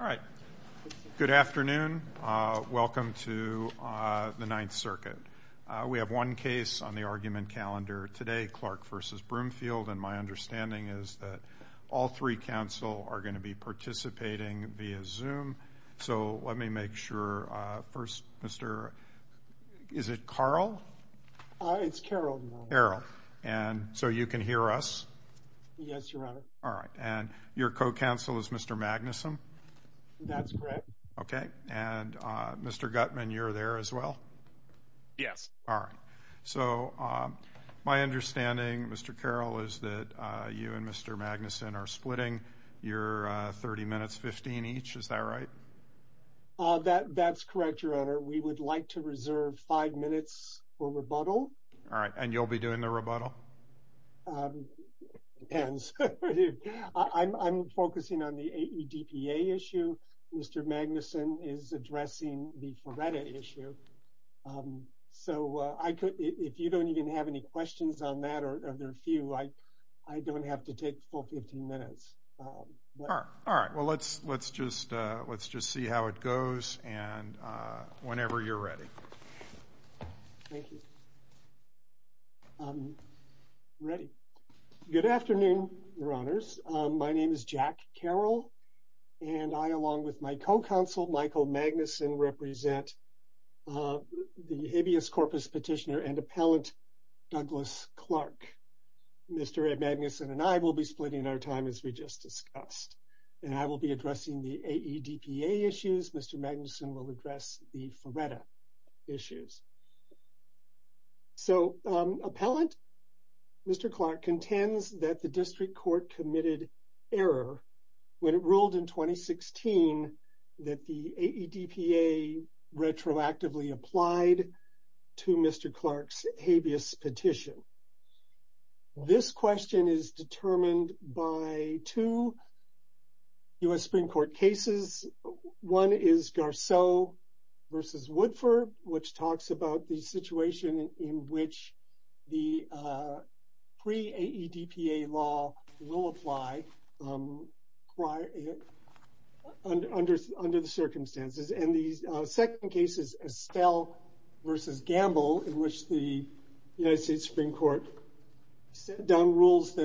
All right. Good afternoon. Welcome to the Ninth Circuit. We have one case on the argument calendar today, Clark v. Broomfield, and my understanding is that all three counsel are going to be participating via Zoom. So let me make sure, first, Mr., is it Carl? It's Carol. Carol. And so you can hear us? Yes, Your Honor. All right. And your co-counsel is Mr. Magnuson? That's correct. Okay. And Mr. Gutman, you're there as well? Yes. All right. So my understanding, Mr. Carol, is that you and Mr. Magnuson are splitting your 30 minutes, 15 each. Is that right? That's correct, Your Honor. We would like to reserve five minutes for rebuttal. All right. And you'll be doing the rebuttal? It depends. I'm focusing on the AEDPA issue. Mr. Magnuson is addressing the FRERETA issue. So if you don't even have any questions on that, or there are a few, I don't have to take the full 15 minutes. All right. Well, let's just see how it goes. And whenever you're ready. Thank you. Ready. Good afternoon, Your Honors. My name is Jack Carol. And I, along with my co-counsel, Michael Magnuson, represent the habeas corpus petitioner and appellant, Douglas Clark. Mr. Magnuson and I will be splitting our time as we just discussed. And I will be addressing the AEDPA issues. Mr. Magnuson will address the FRERETA issues. So, appellant, Mr. Clark contends that the district court committed error when it ruled in 2016 that the AEDPA retroactively applied to Mr. Clark's habeas petition. This question is determined by two U.S. Supreme Court cases. One is Garceau v. Woodford, which talks about the situation in which the pre-AEDPA law will apply under the circumstances. And the second case is Estelle v. Gamble, in which the United States Supreme Court set down rules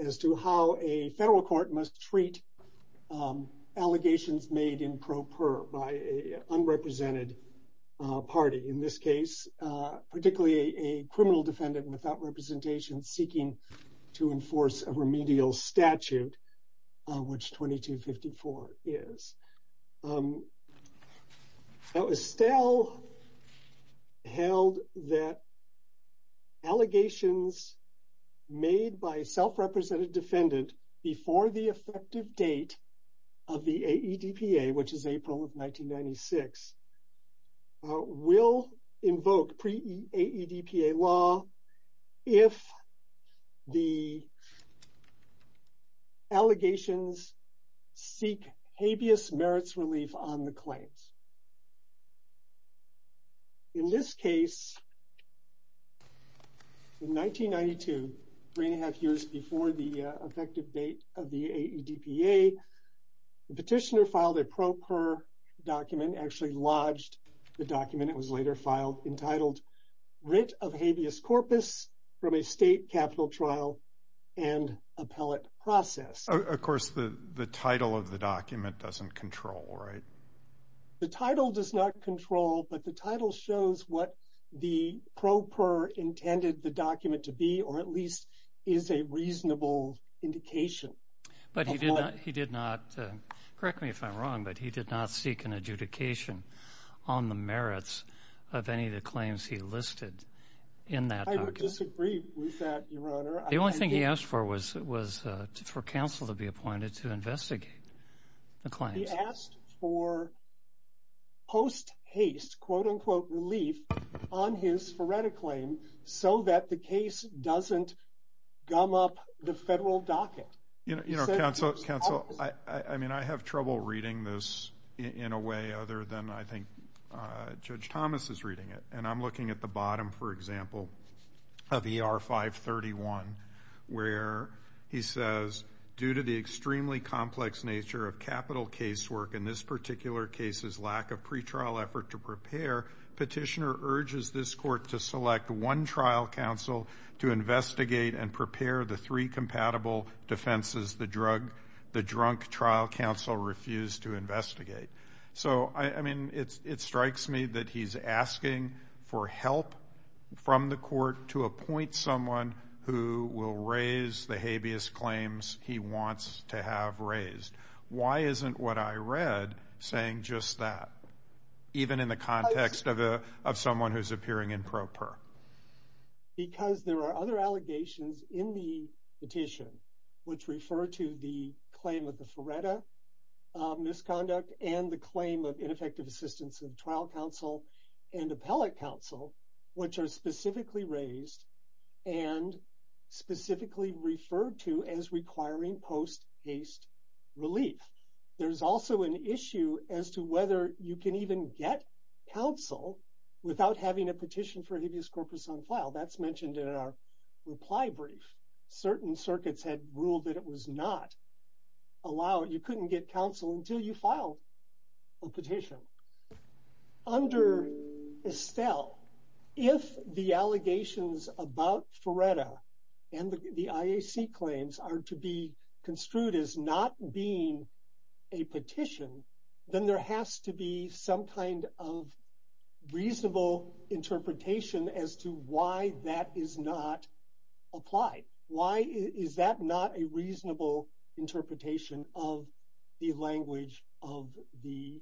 as to how a federal court must treat allegations made in pro per by unrepresented party. In this case, particularly a criminal defendant without representation seeking to enforce a remedial statute, which 2254 is. So, Estelle held that allegations made by self-represented defendant before the effective date of the AEDPA, which is April of 1996, will invoke pre-AEDPA law if the allegations seek habeas merits relief on the claims. In this case, in 1992, three and a half years before the effective date of the AEDPA, the petitioner filed a pro per document, actually lodged the document. It was later filed entitled writ of habeas corpus from a state capital trial and appellate process. Of course, the title of the document doesn't control, right? The title does not control, but the title shows what the pro per intended the document to be, or at least is a reasonable indication. But he did not, correct me if I'm wrong, but he did not seek an adjudication on the merits of any of the claims he listed in that document. I would disagree with that, your honor. The only thing he asked for was for counsel to be appointed to investigate the claims. He asked for post haste, quote unquote, relief on his FRERTA claim so that the case doesn't gum up the federal docket. You know, counsel, I mean, I have trouble reading this in a way other than I think Judge Thomas is reading it. And I'm looking at the bottom, for example, of ER 531, where he says, due to the extremely complex nature of capital case work, in this particular case's lack of urgency, this court to select one trial counsel to investigate and prepare the three compatible defenses the drunk trial counsel refused to investigate. So, I mean, it strikes me that he's asking for help from the court to appoint someone who will raise the habeas claims he wants to have appearing in pro per. Because there are other allegations in the petition which refer to the claim of the FRERTA misconduct and the claim of ineffective assistance in trial counsel and appellate counsel, which are specifically raised and specifically referred to as requiring post haste relief. There's also an issue as to whether you can even get counsel without having a petition for habeas corpus on file. That's mentioned in our reply brief. Certain circuits had ruled that it was not allowed. You couldn't get counsel until you filed a petition. Under Estelle, if the allegations about FRERTA and the IAC claims are to be construed as not being a petition, then there has to be some kind of reasonable interpretation as to why that is not applied. Why is that not a reasonable interpretation of the language of the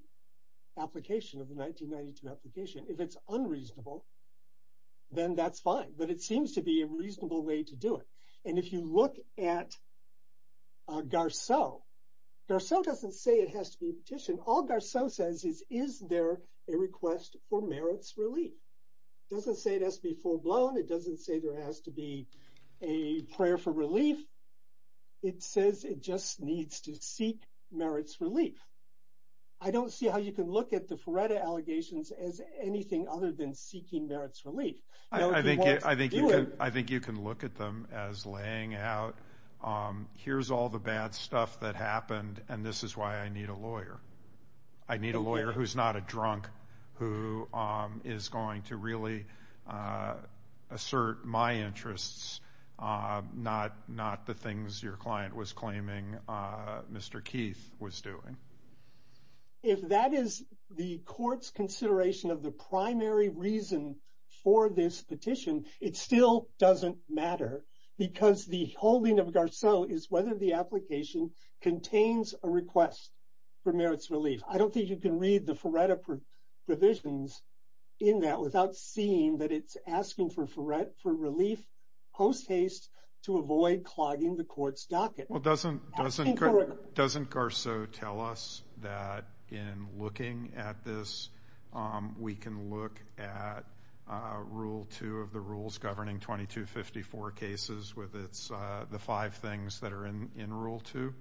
1992 application? If it's unreasonable, then that's fine. But it seems to be a reasonable way to do it. And if you look at Garceau, Garceau doesn't say it has to be a petition. All Garceau says is, is there a request for merits relief? It doesn't say it has to be full-blown. It doesn't say there has to be a prayer for relief. It says it just needs to seek merits relief. I don't see how you can look at the FRERTA allegations as anything other than seeking merits relief. I think you can look at them as laying out, here's all the bad stuff that happened and this is why I need a lawyer. I need a lawyer who's not a drunk, who is going to really assert my interests, not the things your client was claiming Mr. Keith was doing. If that is the court's consideration of the primary reason for this petition, it still doesn't matter because the holding of Garceau is whether the application contains a request for merits relief. I don't think you can read the FRERTA provisions in that without seeing that it's asking for relief post haste to avoid clogging the court's docket. Doesn't Garceau tell us that in looking at this, we can look at rule two of the rules governing 2254 cases with the five things that are in rule two?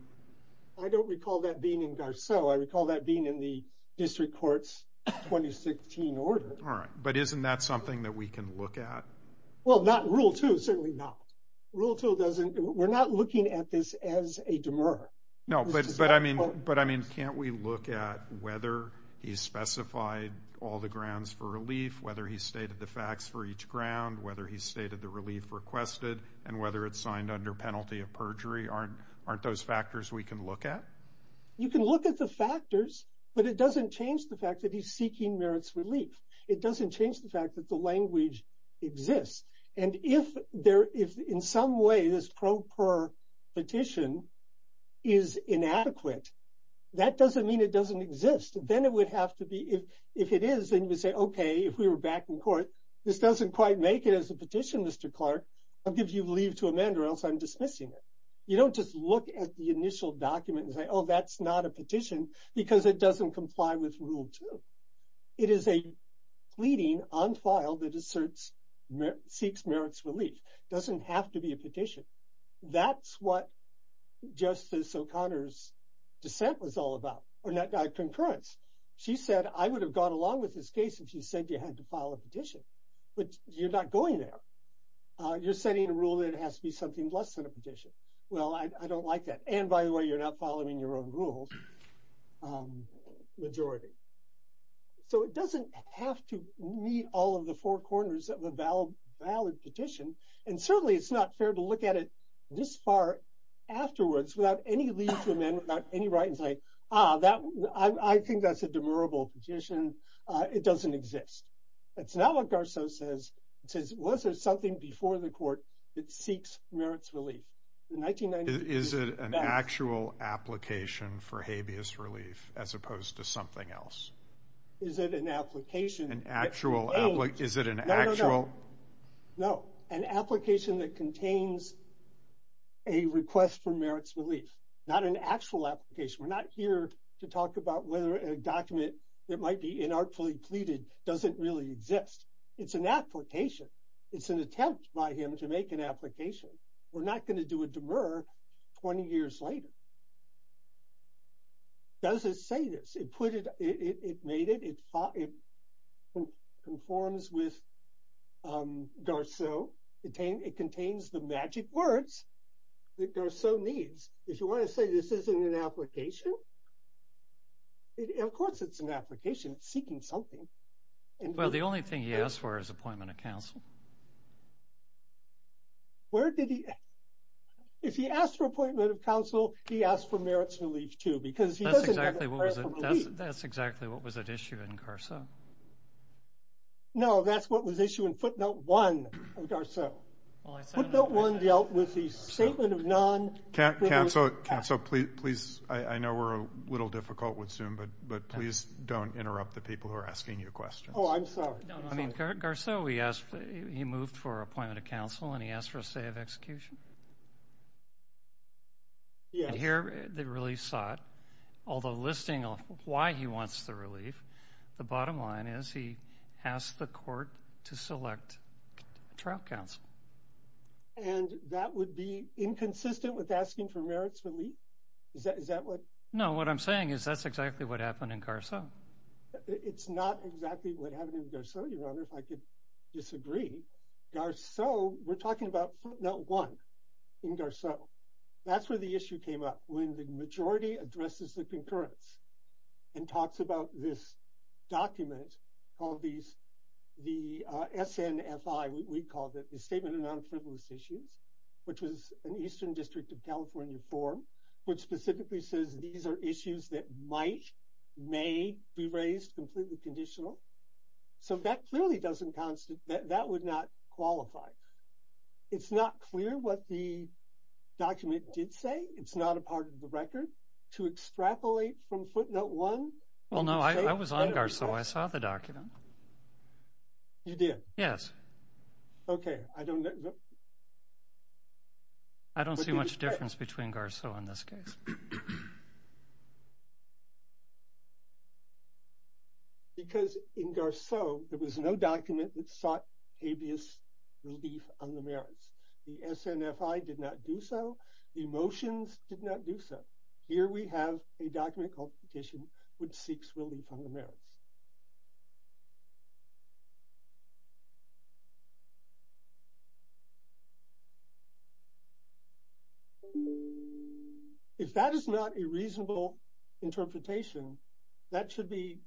I don't recall that being in Garceau. I recall that being in the district court's 2016 order. All right, but isn't that something that we can look at? Well, not rule two, certainly not. Rule two doesn't, we're not looking at this as a demur. No, but I mean, can't we look at whether he specified all the grounds for relief, whether he stated the facts for each ground, whether he stated the relief requested, and whether it's signed under penalty of perjury? Aren't those factors we can look at? You can look at the factors, but it doesn't change the fact that he's seeking merits relief. It doesn't change the fact that the language exists. And if in some way, this pro per petition is inadequate, that doesn't mean it doesn't exist. Then it would have to be, if it is, then you would say, okay, if we were back in court, this doesn't quite make it as a petition, Mr. Clark, I'll give you leave to amend or else I'm dismissing it. You don't just look at the initial document and say, oh, that's not a petition because it doesn't comply with rule two. It is a pleading on file that seeks merits relief. It doesn't have to be a petition. That's what Justice O'Connor's dissent was all about, or not a concurrence. She said, I would have gone along with this case if you said you had to file a petition, but you're not going there. You're setting a rule that it has to be something less than a petition. Well, I don't like that. And by the way, you're not following your own rules. Majority. So it doesn't have to meet all of the four corners of a valid petition, and certainly it's not fair to look at it this far afterwards without any leave to amend, without any right in saying, ah, I think that's a demurrable petition. It doesn't exist. That's not what Garceau says. It says, was there something before the court that seeks merits relief? Is it an actual application for habeas relief as opposed to something else? Is it an application? No. An application that contains a request for merits relief, not an actual application. We're not here to talk about whether a document that might be inartfully pleaded doesn't really exist. It's an application. It's an attempt by him to make an application. We're not going to do a demurra 20 years later. Does it say this? It made it. It conforms with Garceau. It contains the magic words that Garceau needs. If you want to say this isn't an application, of course it's an application. It's seeking something. Well, the only thing he asked for is appointment of counsel. Where did he? If he asked for appointment of counsel, he asked for merits relief, too, because that's exactly what was at issue in Garceau. No, that's what was issue in footnote one of Garceau. Footnote one dealt with the statement of non-counsel. Counsel, please, I know we're a little difficult with Zoom, but please don't interrupt the people who are asking you questions. Oh, I'm sorry. Garceau, he moved for appointment of counsel, and he asked for a say of execution. Here, they really sought, although listing why he wants the relief, the bottom line is he asked the court to select trial counsel. And that would be inconsistent with asking for merits relief? Is that what? No, what I'm saying is that's exactly what happened in Garceau. It's not exactly what happened in Garceau, Your Honor, if I could disagree. Garceau, we're talking about footnote one in Garceau. That's where the issue came up, when the majority addresses the concurrence and talks about this document called the SNFI, we called it, the Statement of Non-Frivolous Issues, which was an Eastern District of California form, which specifically says these are issues that might, may be raised completely conditional. So, that clearly doesn't constitute, that would not qualify. It's not clear what the document did say. It's not a part of the record. To extrapolate from footnote one. Well, no, I was on Garceau. I saw the document. You did? Yes. Okay. I don't know. I don't see much difference between Garceau in this case. Because in Garceau, there was no document that sought habeas relief on the merits. The SNFI did not do so. The motions did not do so. Here we have a document called Petition, which seeks relief on the merits. If that is not a reasonable interpretation, that should be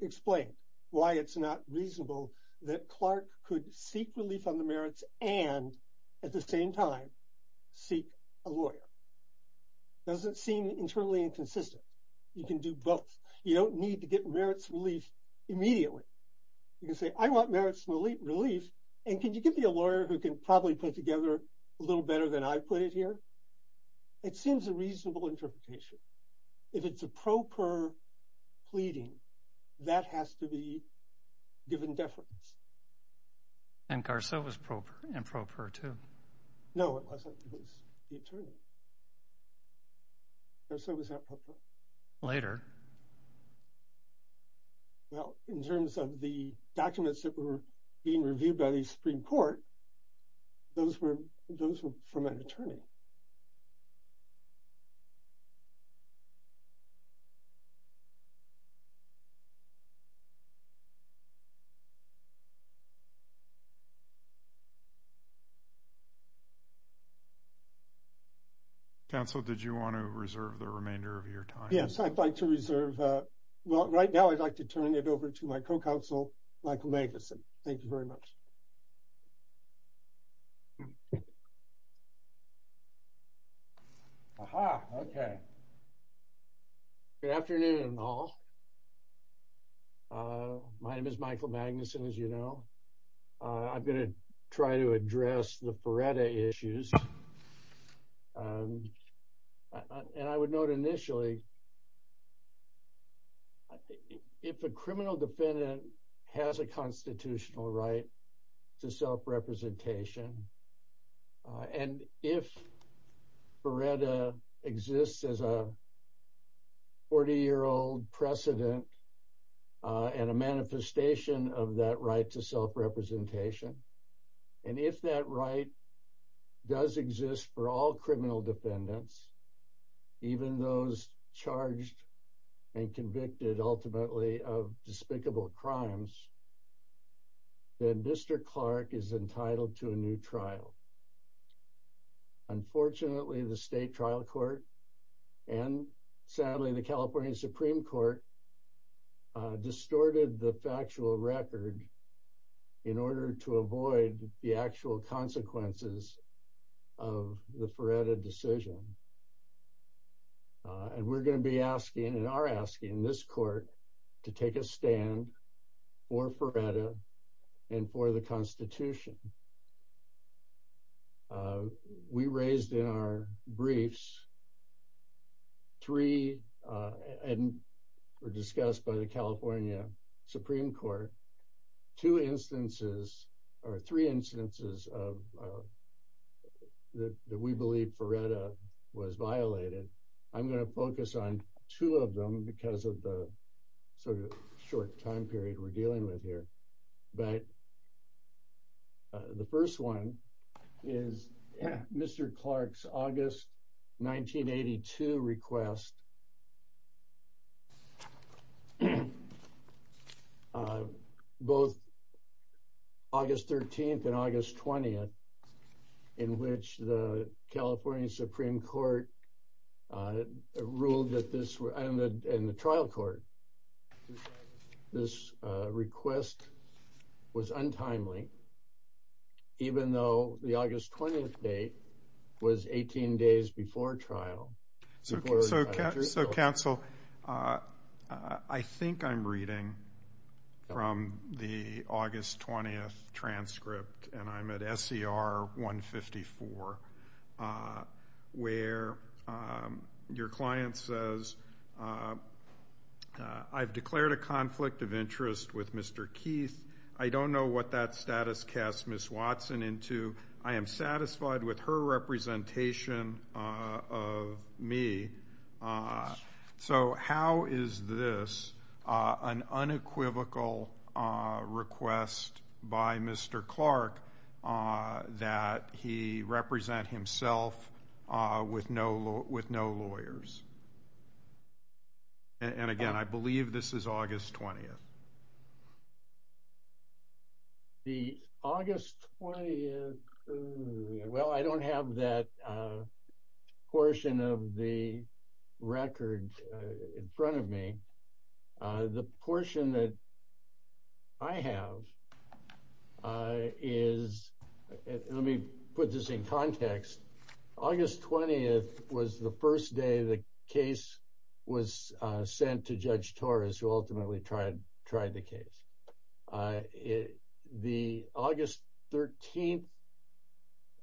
explained, why it's not reasonable that Clark could seek relief on the merits and at the same time, seek a lawyer. Doesn't seem internally inconsistent. You can do both. You don't need to get merits relief immediately. You can say, I want merits relief, and can you give me a lawyer who can probably put together a little better than I put it here? It seems a reasonable interpretation. If it's a pro per pleading, that has to be given deference. And Garceau was improper too. No, it wasn't. It was the attorney. Garceau was not proper. Later. Well, in terms of the documents that were being reviewed by the Supreme Court, those were from an attorney. Okay. Counsel, did you want to reserve the remainder of your time? Yes, I'd like to reserve. Well, right now, I'd like to turn it over to my co-counsel, Michael Magnuson. Thank you very much. Aha. Okay. Good afternoon, all. My name is Michael Magnuson, as you know. I'm going to try to address the Feretta issues. And I would note initially, if a criminal defendant has a constitutional right to self-representation, and if Feretta exists as a 40-year-old precedent and a manifestation of that right to self-representation, and if that right does exist for all criminal defendants, even those charged and convicted ultimately of despicable crimes, then Mr. Clark is entitled to a new trial. Unfortunately, the state trial court and sadly, the California Supreme Court distorted the factual record in order to avoid the actual consequences of the Feretta decision. And we're going to be asking and are asking this court to take a stand for Feretta and for the discussed by the California Supreme Court, two instances or three instances of that we believe Feretta was violated. I'm going to focus on two of them because of the sort of short time period we're dealing with here. But the first one is Mr. Clark's August 1982 request. Both August 13th and August 20th, in which the California Supreme Court ruled that this, and the trial court, this request was untimely. And even though the August 20th date was 18 days before trial. So counsel, I think I'm reading from the August 20th transcript and I'm at SCR 154, where your client says, I've declared a conflict of interest with Mr. Keith. I don't know what that status cast Ms. Watson into. I am satisfied with her representation of me. So how is this an unequivocal request by Mr. Clark that he represent himself with no, lawyers? And again, I believe this is August 20th. The August 20th, well, I don't have that portion of the record in front of me. The portion that I have is, let me put this in context. August 20th was the first day the case was sent to Judge Torres, who ultimately tried the case. The August 13th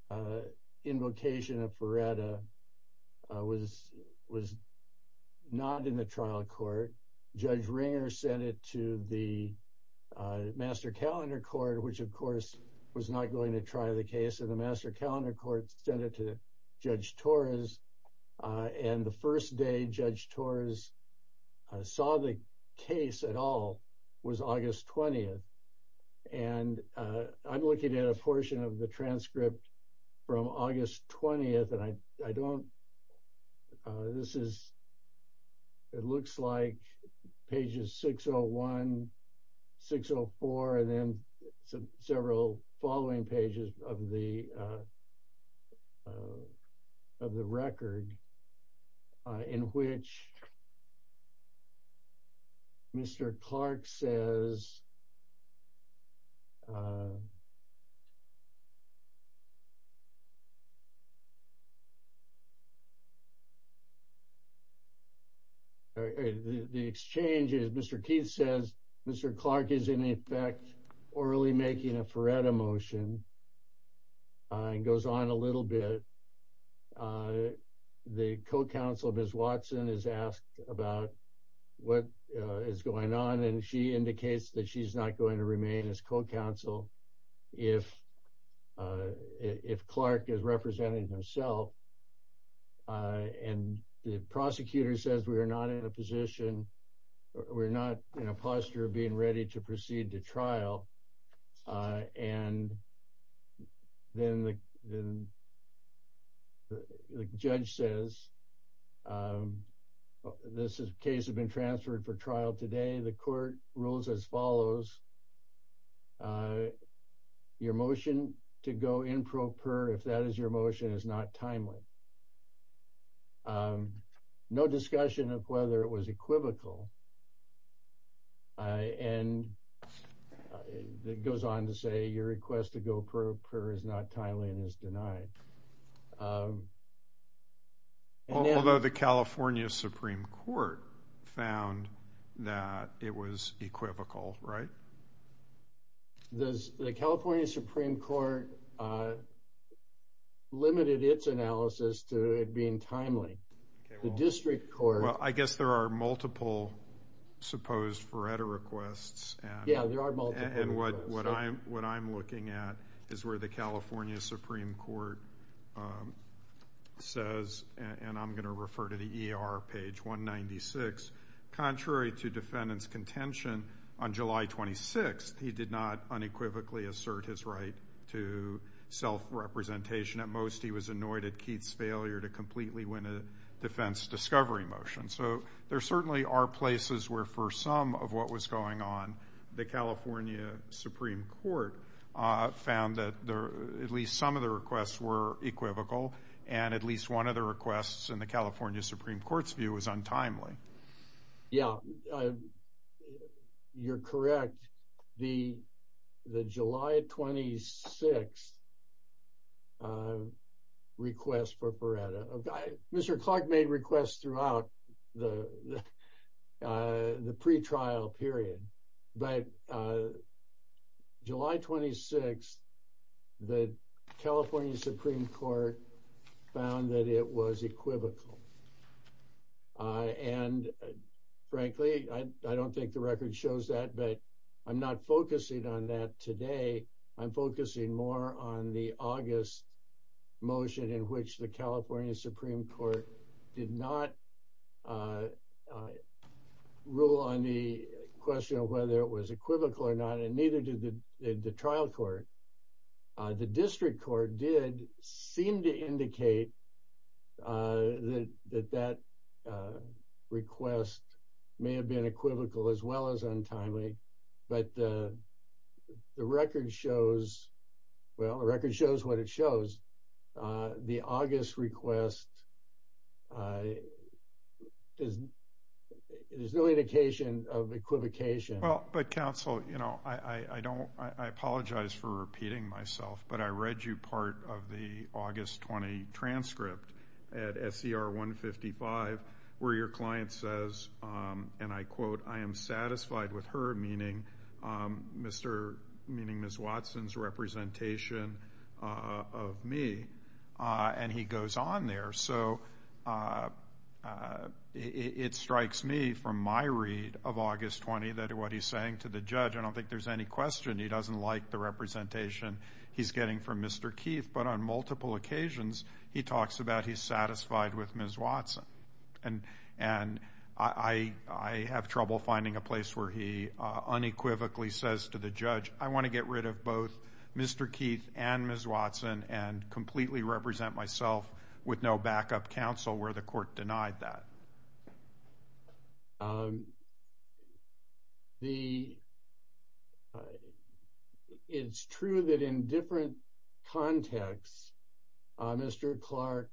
the Master Calendar Court, which of course was not going to try the case and the Master Calendar Court sent it to Judge Torres. And the first day Judge Torres saw the case at all was August 20th. And I'm looking at a portion of the transcript from August 20th. And I don't, this is, it looks like pages 601, 604, and then several following pages of the record in which Mr. Clark says, the exchange is Mr. Keith says, Mr. Clark is in effect orally making a Faretta motion and goes on a little bit. The co-counsel, Ms. Watson is asked about what is going on. And she indicates that she's not going to remain as co-counsel. If Clark is representing himself, and the prosecutor says we are not in a position, we're not in a posture of being ready to proceed to trial. And then the judge says, this case has been transferred for trial today. The court rules as follows. Your motion to go in pro per, if that is your motion is not timely. No discussion of whether it was equivocal. And it goes on to say your request to go pro per is not timely and is denied. Although the California Supreme Court found that it was equivocal, right? The California Supreme Court limited its analysis to it being timely. The district court... Well, I guess there are multiple supposed Faretta requests. Yeah, there are multiple requests. And what I'm looking at is where the California Supreme Court says, and I'm going to refer to the ER page 196, contrary to defendant's contention on July 26th, he did not unequivocally assert his right to self-representation. At most, he was annoyed at Keith's failure to completely win a defense discovery motion. So there certainly are places where for some of what was going on, the California Supreme Court found that at least some of the and at least one of the requests in the California Supreme Court's view was untimely. Yeah, you're correct. The July 26th request for Faretta... Mr. Clark made requests throughout the pre-trial period. But July 26th, the California Supreme Court found that it was equivocal. And frankly, I don't think the record shows that, but I'm not focusing on that today. I'm focusing more on the August motion in which the California Supreme Court did not rule on the question of whether it was equivocal or not, and neither did the trial court. The district court did seem to indicate that that request may have been equivocal as well as well. The record shows what it shows. The August request, there's no indication of equivocation. Well, but counsel, I apologize for repeating myself, but I read you part of the August 20 transcript at SCR 155, where your client says, and I quote, I am satisfied with her, meaning Ms. Watson's representation of me. And he goes on there. So it strikes me from my read of August 20 that what he's saying to the judge, I don't think there's any question he doesn't like the representation he's getting from Mr. Keith, but on multiple occasions, he talks about he's satisfied with Ms. Watson. And I have trouble finding a place where he unequivocally says to the judge, I want to get rid of both Mr. Keith and Ms. Watson and completely represent myself with no backup counsel where the court denied that. It's true that in different contexts, Mr. Clark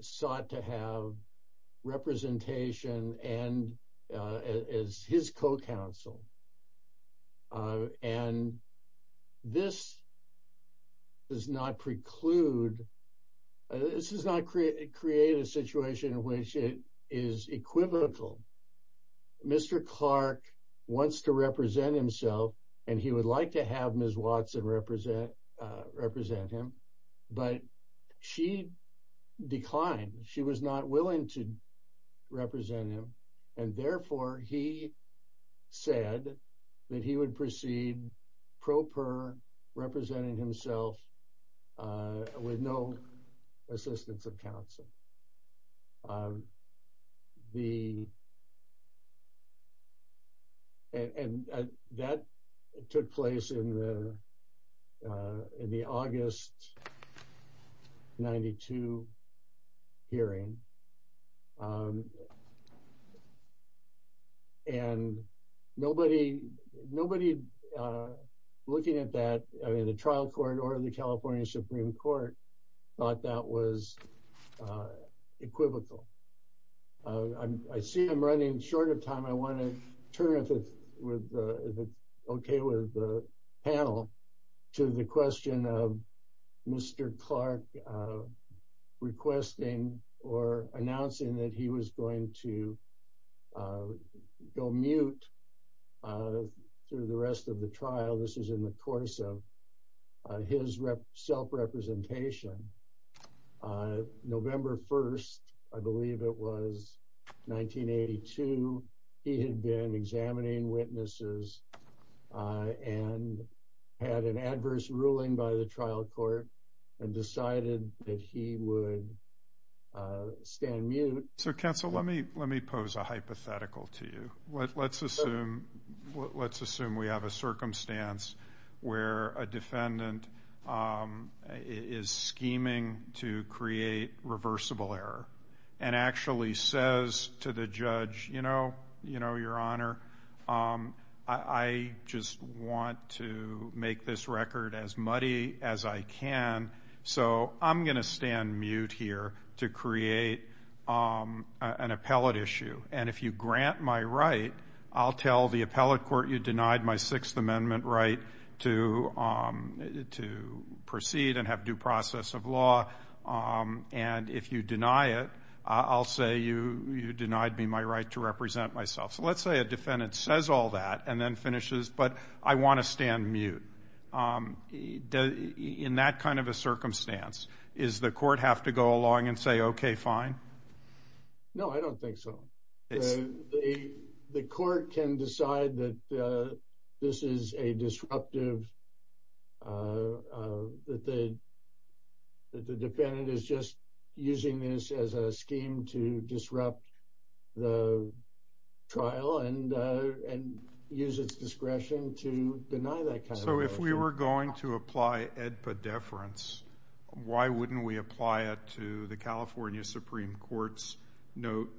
sought to have representation as his co-counsel. And this does not preclude, this does not create a situation in which it is equivocal. Mr. Clark wants to represent himself, and he would like to have Ms. Watson represent him, but she declined. She was not willing to represent him. And therefore, he said that he would proceed pro per representing himself with no assistance of counsel. And that took place in the August 92 hearing. And nobody looking at that, I mean, the trial court or the California Supreme Court thought that was equivocal. I see I'm running short of time, I want to turn it with the okay with the panel to the question of Mr. Clark requesting or announcing that he was going to go mute through the rest of the trial. This is in the course of his self-representation. November 1, I believe it was 1982, he had been examining witnesses and had an adverse ruling by the trial court and decided that he would stand mute. So counsel, let me pose a hypothetical to you. Let's assume we have a circumstance where a defendant is scheming to create reversible error and actually says to the judge, you know, your honor, I just want to make this record as muddy as I can, so I'm going to stand mute here to create an appellate issue. And if you grant my right, I'll tell the appellate court you to proceed and have due process of law. And if you deny it, I'll say you denied me my right to represent myself. So let's say a defendant says all that and then finishes, but I want to stand mute. In that kind of a circumstance, is the court have to go along and say, okay, fine? No, I don't think so. The court can decide that this is a disruptive, that the defendant is just using this as a scheme to disrupt the trial and use its discretion to deny that kind of violation. So if we were going to apply EDPA deference, why wouldn't we apply it to the California Supreme Court's note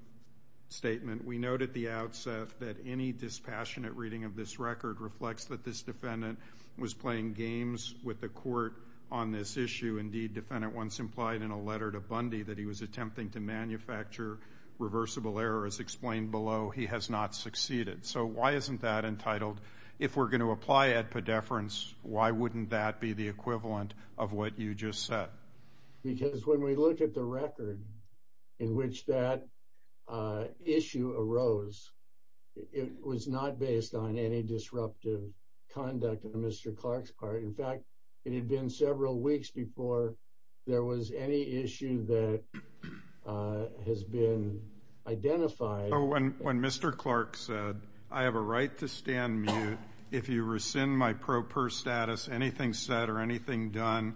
statement? We noted the outset that any dispassionate reading of this record reflects that this defendant was playing games with the court on this issue. Indeed, defendant once implied in a letter to Bundy that he was attempting to manufacture reversible error as explained below. He has not succeeded. So why isn't that entitled? If we're going to apply EDPA deference, why wouldn't that be the equivalent of what you just said? Because when we look at the record in which that issue arose, it was not based on any disruptive conduct on Mr. Clark's part. In fact, it had been several weeks before there was any issue that has been identified. When Mr. Clark said, I have a right to stand mute if you rescind my pro per status, anything said or anything done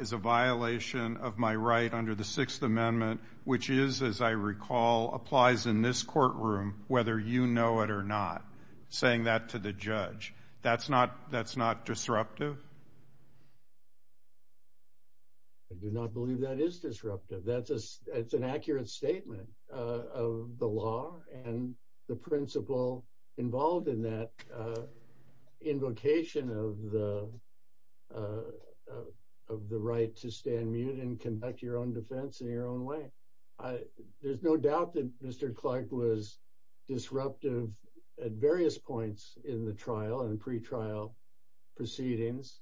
is a violation of my right under the Sixth Amendment, which is, as I recall, applies in this courtroom whether you know it or not, saying that to the judge. That's not disruptive? I do not believe that is disruptive. That's an accurate statement of the law and the principle involved in that invocation of the right to stand mute and conduct your own defense in your own way. There's no doubt that Mr. Clark was disruptive at various points in the trial and pretrial proceedings,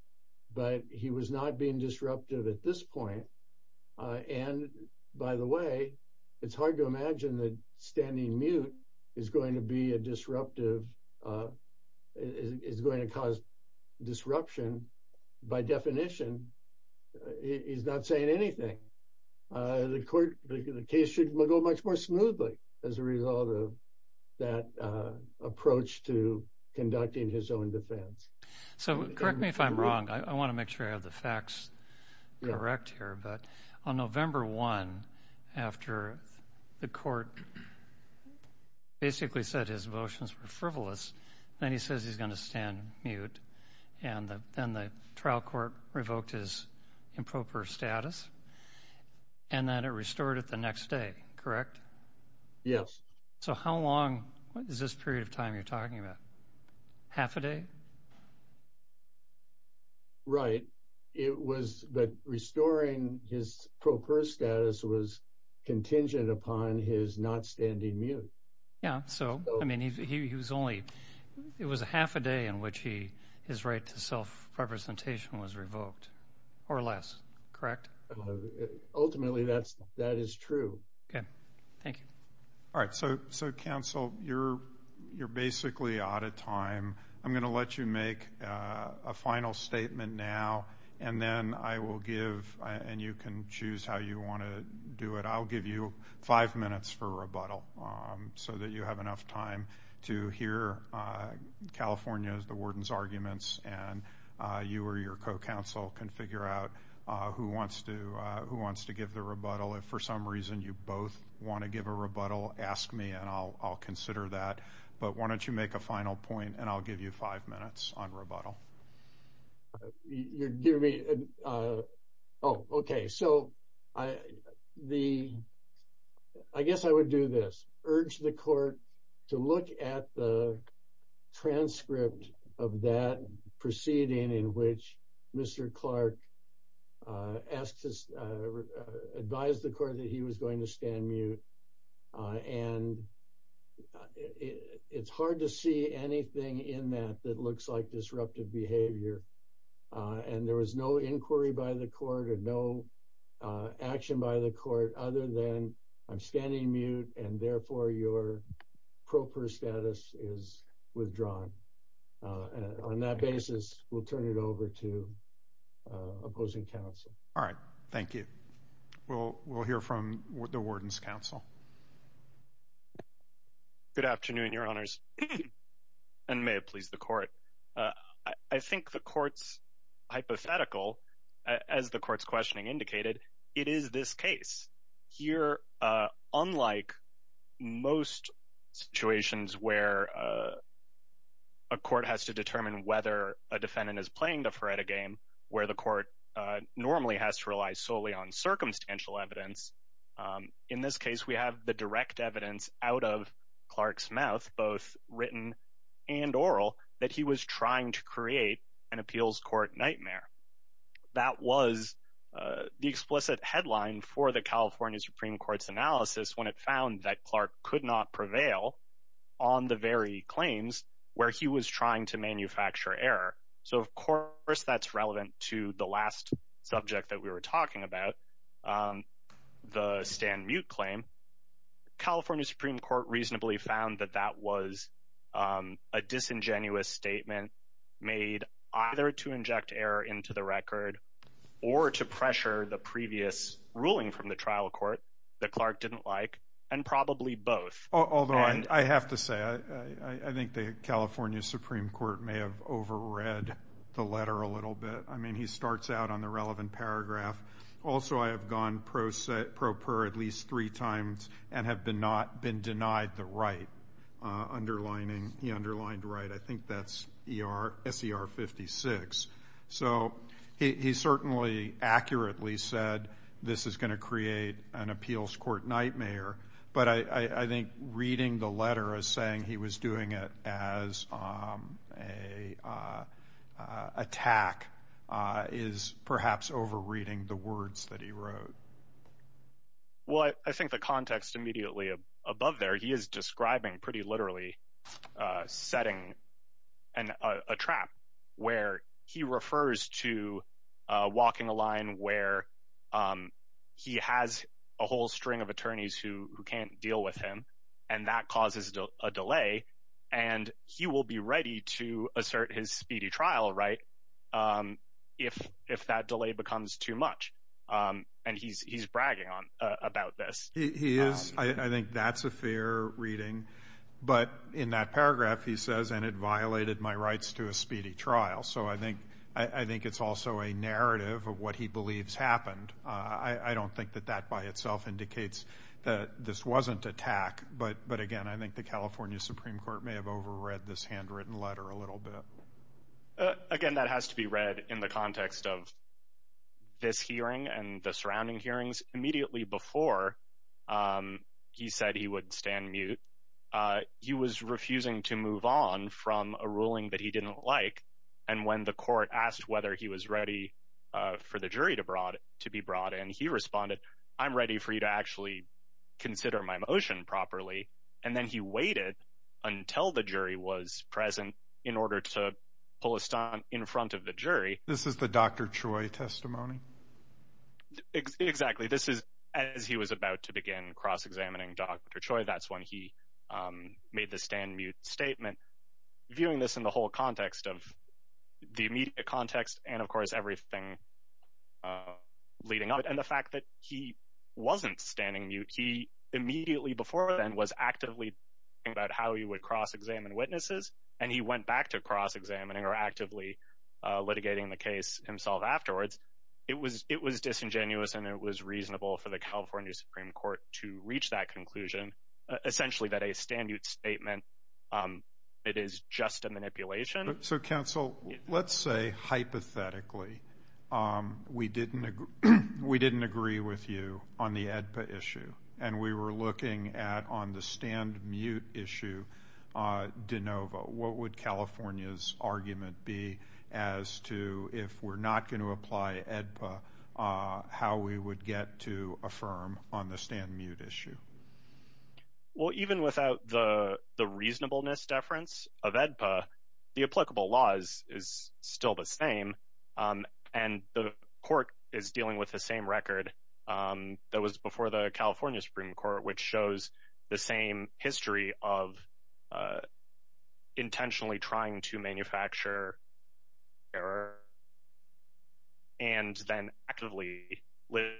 but he was not being disruptive at this point. And by the way, it's hard to imagine that standing mute is going to be a disruptive, is going to cause disruption. By definition, he's not saying anything. The court, the case should go much more smoothly as a result of that approach to conducting his own defense. So correct me if I'm wrong. I want to make sure I have the facts correct here. But on November 1, after the court basically said his motions were frivolous, then he says he's going to stand mute. And then the trial court revoked his improper status, and then it restored it the next day. Correct? Yes. So how long is this period of time you're referring to? Half a day? Right. But restoring his proper status was contingent upon his not standing mute. Yeah. So it was a half a day in which his right to self-representation was revoked or less. Correct? Ultimately, that is true. Okay. Thank you. All right. So counsel, you're basically out of time. I'm going to let you make a final statement now, and then I will give, and you can choose how you want to do it, I'll give you five minutes for rebuttal so that you have enough time to hear California's, the warden's arguments, and you or your co-counsel can figure out who wants to give the rebuttal. If for some reason you both want to give a rebuttal, ask me and I'll consider that. But why don't you make a final point and I'll give you five minutes on rebuttal. Oh, okay. So I guess I would do this, urge the court to look at the transcript of that proceeding in which Mr. Clark advised the court that he was going to stand mute and it's hard to see anything in that that looks like disruptive behavior. And there was no inquiry by the court or no action by the court other than I'm standing mute and therefore your proper status is withdrawn. On that basis, we'll turn it over to opposing counsel. All right, thank you. We'll hear from the warden's counsel. Good afternoon, your honors, and may it please the court. I think the court's hypothetical, as the court's questioning indicated, it is this case. Here, unlike most situations where a court has to determine whether a defendant is playing the Faretta game, where the court normally has to rely solely on circumstantial evidence. In this case, we have the direct evidence out of Clark's mouth, both written and oral, that he was trying to create an appeals court nightmare. That was the explicit headline for the California Supreme Court's analysis when it found that Clark could not prevail on the very claims where he was trying to manufacture error. So, of course, that's relevant to the last subject that we were talking about, the stand mute claim. California Supreme Court reasonably found that that was a disingenuous statement made either to inject error into the record or to pressure the previous ruling from the trial court that Clark didn't like, and probably both. Although, I have to say, I think the California Supreme Court may have overread the letter a little bit. I mean, he starts out on the relevant paragraph. Also, I have gone pro per at least three times and have not been denied the right, underlining, he underlined right. I think that's S.E.R. 56. So, he certainly accurately said this is going to create an appeals court nightmare, but I think reading the letter as saying he was doing it as an attack is perhaps over reading the words that he wrote. Well, I think the context immediately above there, he is describing pretty literally a setting and a trap where he refers to walking a line where he has a whole string of attorneys who can't deal with him, and that causes a delay, and he will be ready to assert his speedy trial right if that delay becomes too much, and he's bragging about this. He is. I think that's a fair reading, but in that paragraph, he says, and it violated my rights to a speedy trial. So, I think it's also a narrative of what he believes happened. I don't think that that by itself indicates that this wasn't attack, but again, I think the California Supreme Court may have overread this handwritten letter a little bit. Again, that has to be read in the context of this hearing and the surrounding hearings immediately before he said he would stand mute. He was refusing to move on from a ruling that he didn't like, and when the court asked whether he was ready for the jury to be brought in, he responded, I'm ready for you to actually consider my motion properly, and then he waited until the jury was on. Exactly. This is as he was about to begin cross-examining Dr. Choi. That's when he made the stand mute statement, viewing this in the whole context of the immediate context, and of course, everything leading up, and the fact that he wasn't standing mute. He immediately before then was actively thinking about how he would cross-examine witnesses, and he went back to cross-examining or actively litigating the case himself afterwards. It was disingenuous, and it was reasonable for the California Supreme Court to reach that conclusion, essentially that a stand mute statement, it is just a manipulation. So counsel, let's say hypothetically, we didn't agree with you on the ADPA issue, and we were looking at on the stand argument be as to if we're not going to apply ADPA, how we would get to affirm on the stand mute issue. Well, even without the reasonableness deference of ADPA, the applicable laws is still the same, and the court is dealing with the same record that was before the California Supreme Court, which shows the same history of intentionally trying to manufacture error, and then actively litigate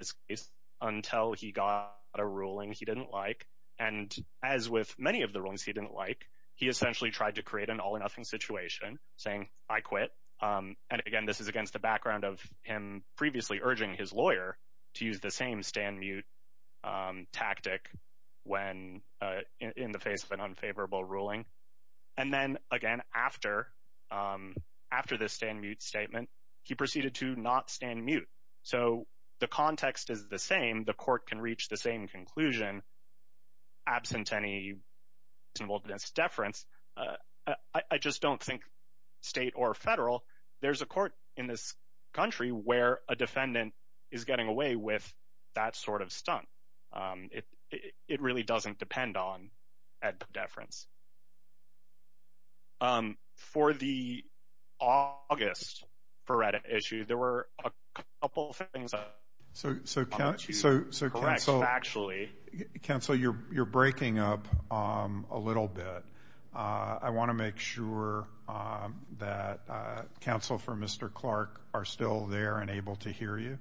this case until he got a ruling he didn't like, and as with many of the rulings he didn't like, he essentially tried to create an all-or-nothing situation, saying, I quit. And again, this is against the background of him previously urging his lawyer to use the same stand mute tactic when in the face of an unfavorable ruling. And then again, after the stand mute statement, he proceeded to not stand mute. So the context is the same, the court can reach the same conclusion, absent any reasonableness deference. I just don't think state or federal, there's a court in this country where a defendant is getting away with that sort of stunt. It really doesn't depend on ADPA deference. For the August Feretta issue, there were a couple of things I want you to correct factually. Counsel, you're breaking up a little bit. I want to make sure that counsel for Mr. Clark are still there and able to hear you.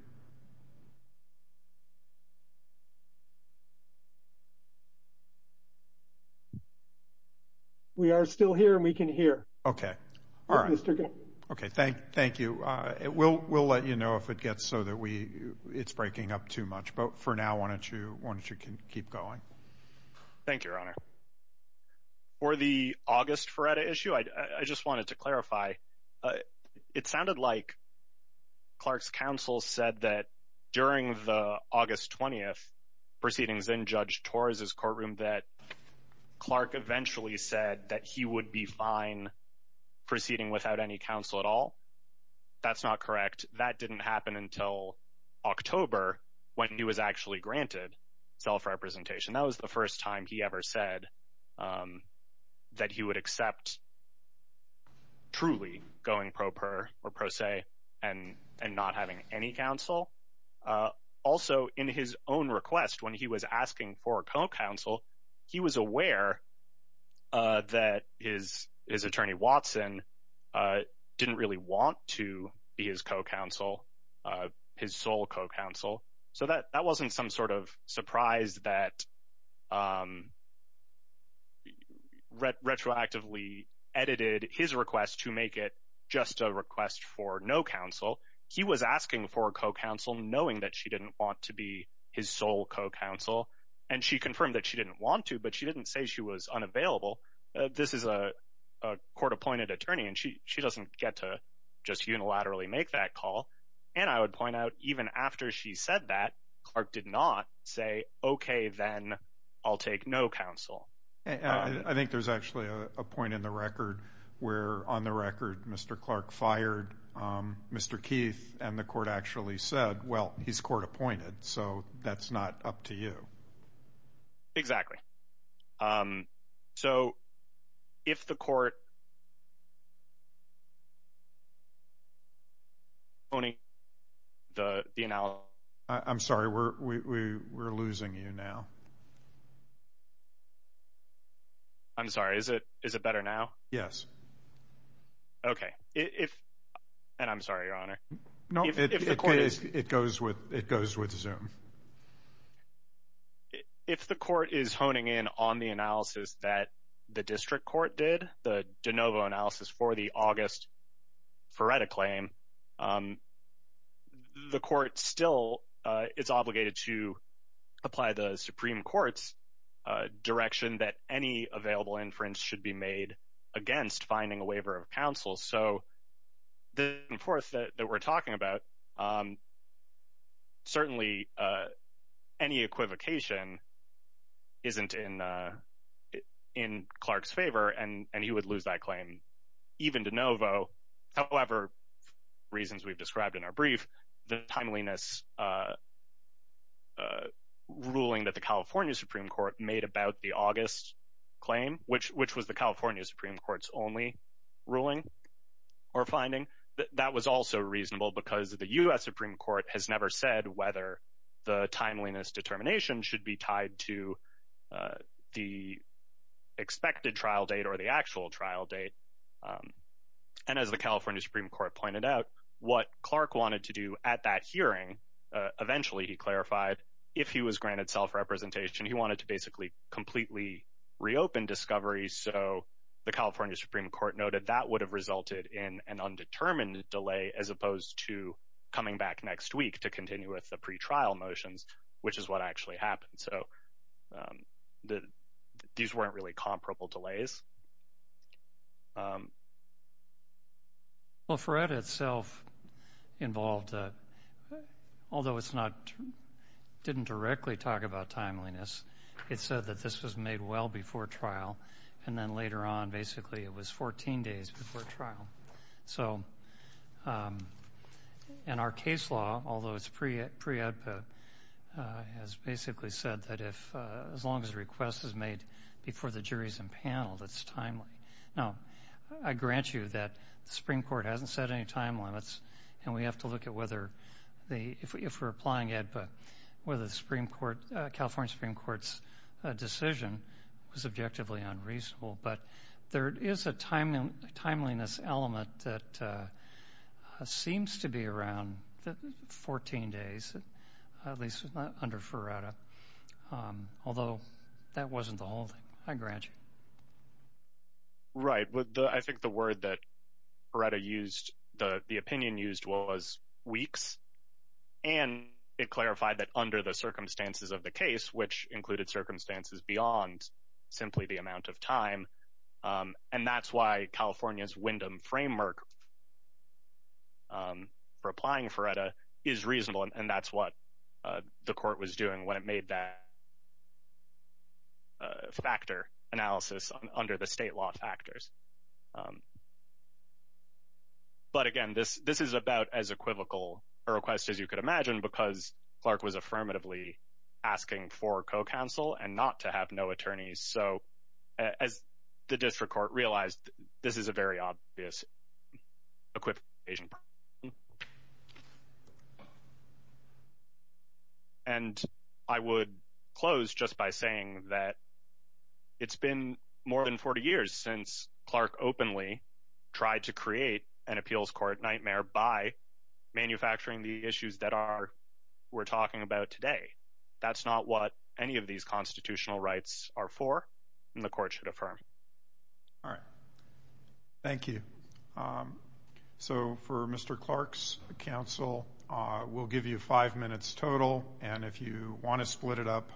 We are still here and we can hear. Okay. All right. Okay. Thank you. We'll let you know if it gets so that it's breaking up too much. But for now, why don't you keep going? Thank you, Your Honor. For the August Feretta issue, I just wanted to clarify. It sounded like Clark's counsel said that during the August 20th proceedings in Judge Torres' courtroom that Clark eventually said that he would be fine proceeding without any counsel at all. That's not correct. That didn't happen until October when he was actually granted self-representation. That was the first time he ever said that he would accept truly going pro per or pro se and not having any counsel. Also, in his own request, when he was asking for a co-counsel, he was aware that his attorney Watson didn't really want to be his co-counsel, his sole co-counsel. So that wasn't some sort of surprise that retroactively edited his request to make it just a request for no counsel. He was asking for a co-counsel knowing that she didn't want to be his sole co-counsel. And she confirmed that she didn't want to, but she didn't say she was unavailable. This is a court-appointed attorney and she doesn't get to just unilaterally make that call. And I would point out even after she said that, Clark did not say, okay, then I'll take no counsel. I think there's actually a point in the record where on the record, Mr. Clark fired Mr. Keith and the court actually said, well, he's court appointed. So that's not up to you. Exactly. So if the court is honing in on the analysis that the district court did, the de novo analysis for the August Feretta claim, the court still is obligated to apply the Supreme Court's direction that any available inference should be made against finding a waiver of counsel. So the forth that we're talking about, certainly any equivocation isn't in Clark's favor and he would that claim even de novo. However, reasons we've described in our brief, the timeliness ruling that the California Supreme Court made about the August claim, which was the California Supreme Court's only ruling or finding that that was also reasonable because the US Supreme Court has never said whether the timeliness determination should be tied to the expected trial date or the date. And as the California Supreme Court pointed out, what Clark wanted to do at that hearing, eventually he clarified if he was granted self-representation, he wanted to basically completely reopen discovery. So the California Supreme Court noted that would have resulted in an undetermined delay as opposed to coming back next week to continue with the pre-trial motions, which is what actually happened. So these weren't really comparable delays. Well, FRED itself involved, although it's not, didn't directly talk about timeliness. It said that this was made well before trial and then later on, basically it was 14 days before trial. So in our case law, although it's pre-EDPA, has basically said that if as long as the request is made before the jury's impaneled, it's timely. Now, I grant you that the Supreme Court hasn't set any time limits and we have to look at whether the, if we're applying EDPA, whether the Supreme Court, California Supreme Court's decision was objectively unreasonable. But there is a timeliness element that seems to be around 14 days, at least under Ferretta. Although that wasn't the whole thing. I grant you. Right. I think the word that Ferretta used, the opinion used was weeks. And it clarified that under the circumstances of the case, which included circumstances beyond simply the amount of time. And that's why California's Wyndham framework for applying Ferretta is reasonable. And that's what the court was doing when it made that factor analysis under the state law factors. But again, this is about as equivocal a request as you could imagine, because Clark was So as the district court realized, this is a very obvious equivocation. And I would close just by saying that it's been more than 40 years since Clark openly tried to create an appeals court nightmare by manufacturing the issues that are, we're talking about today. That's not what any of these constitutional rights are for. And the court should affirm. All right. Thank you. So for Mr. Clark's counsel, we'll give you five minutes total. And if you want to split it up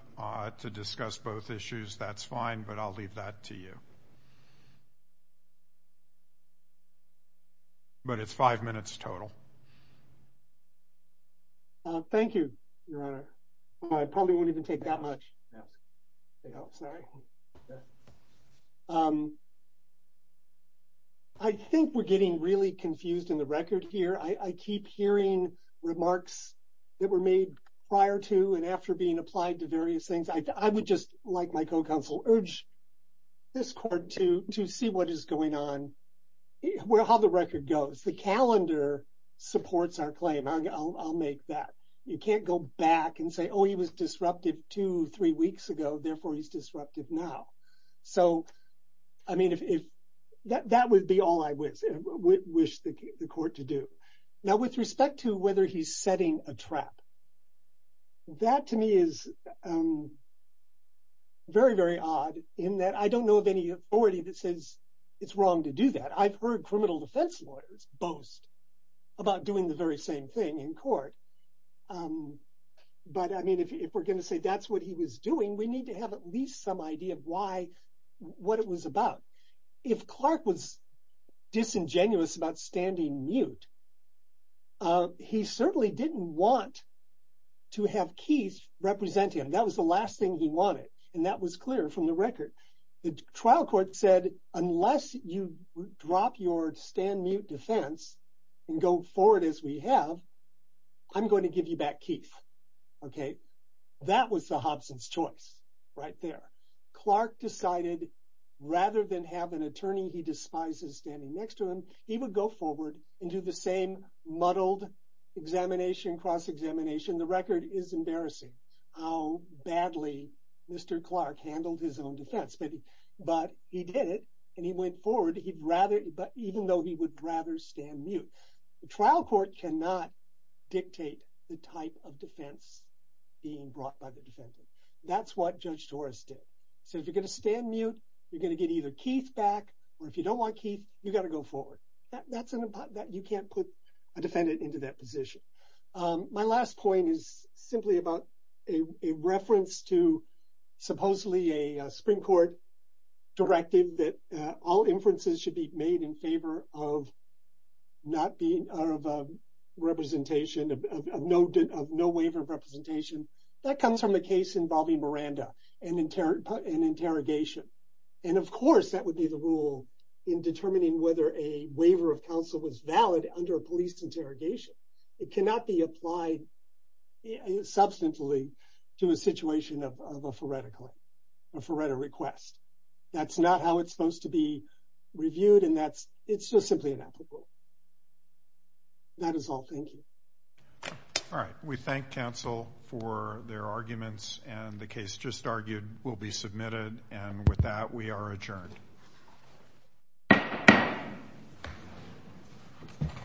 to discuss both issues, that's fine. But I'll leave that to you. But it's five minutes total. Thank you, Your Honor. I probably won't even take that much. I think we're getting really confused in the record here. I keep hearing remarks that were made prior to and after being applied to various things. I would just like my co-counsel urge this court to see what is going on, how the record goes. The calendar supports our claim. I'll make that. You can't go back and say, oh, he was disruptive two, three weeks ago. Therefore, he's disruptive now. So I mean, that would be all I wish the court to do. Now, with respect to whether he's setting a trap, that to me is very, very odd in that I don't know of any authority that says it's wrong to do that. I've heard criminal defense lawyers boast about doing the very same thing in court. But I mean, if we're going to say that's what he was doing, we need to have at least some idea of why, what it was about. If Clark was disingenuous about standing mute, he certainly didn't want to have Keith represent him. That was the last thing he wanted. And that was clear from the record. The trial court said, unless you drop your stand mute defense and go forward as we have, I'm going to give you back Keith. Okay. That was the Hobson's choice right there. Clark decided rather than have an attorney he despises standing next to him, he would go forward and do the same muddled examination, cross-examination. The record is embarrassing how badly Mr. Clark handled his own defense. But he did it and he went forward. Even though he would rather stand mute. The trial court cannot dictate the type of defense being brought by the defendant. That's what Judge Torres did. So if you're going to stand mute, you're going to get either Keith back, or if you don't want Keith, you got to go forward. You can't put a defendant into that position. My last point is simply about a reference to a Supreme Court directive that all inferences should be made in favor of representation, of no waiver of representation. That comes from the case involving Miranda and interrogation. And of course, that would be the rule in determining whether a waiver of counsel was valid under a police interrogation. It cannot be applied substantially to a situation of a foretta request. That's not how it's supposed to be reviewed, and it's just simply inapplicable. That is all. Thank you. All right. We thank counsel for their arguments, and the case just argued will be submitted. And with that, we are adjourned.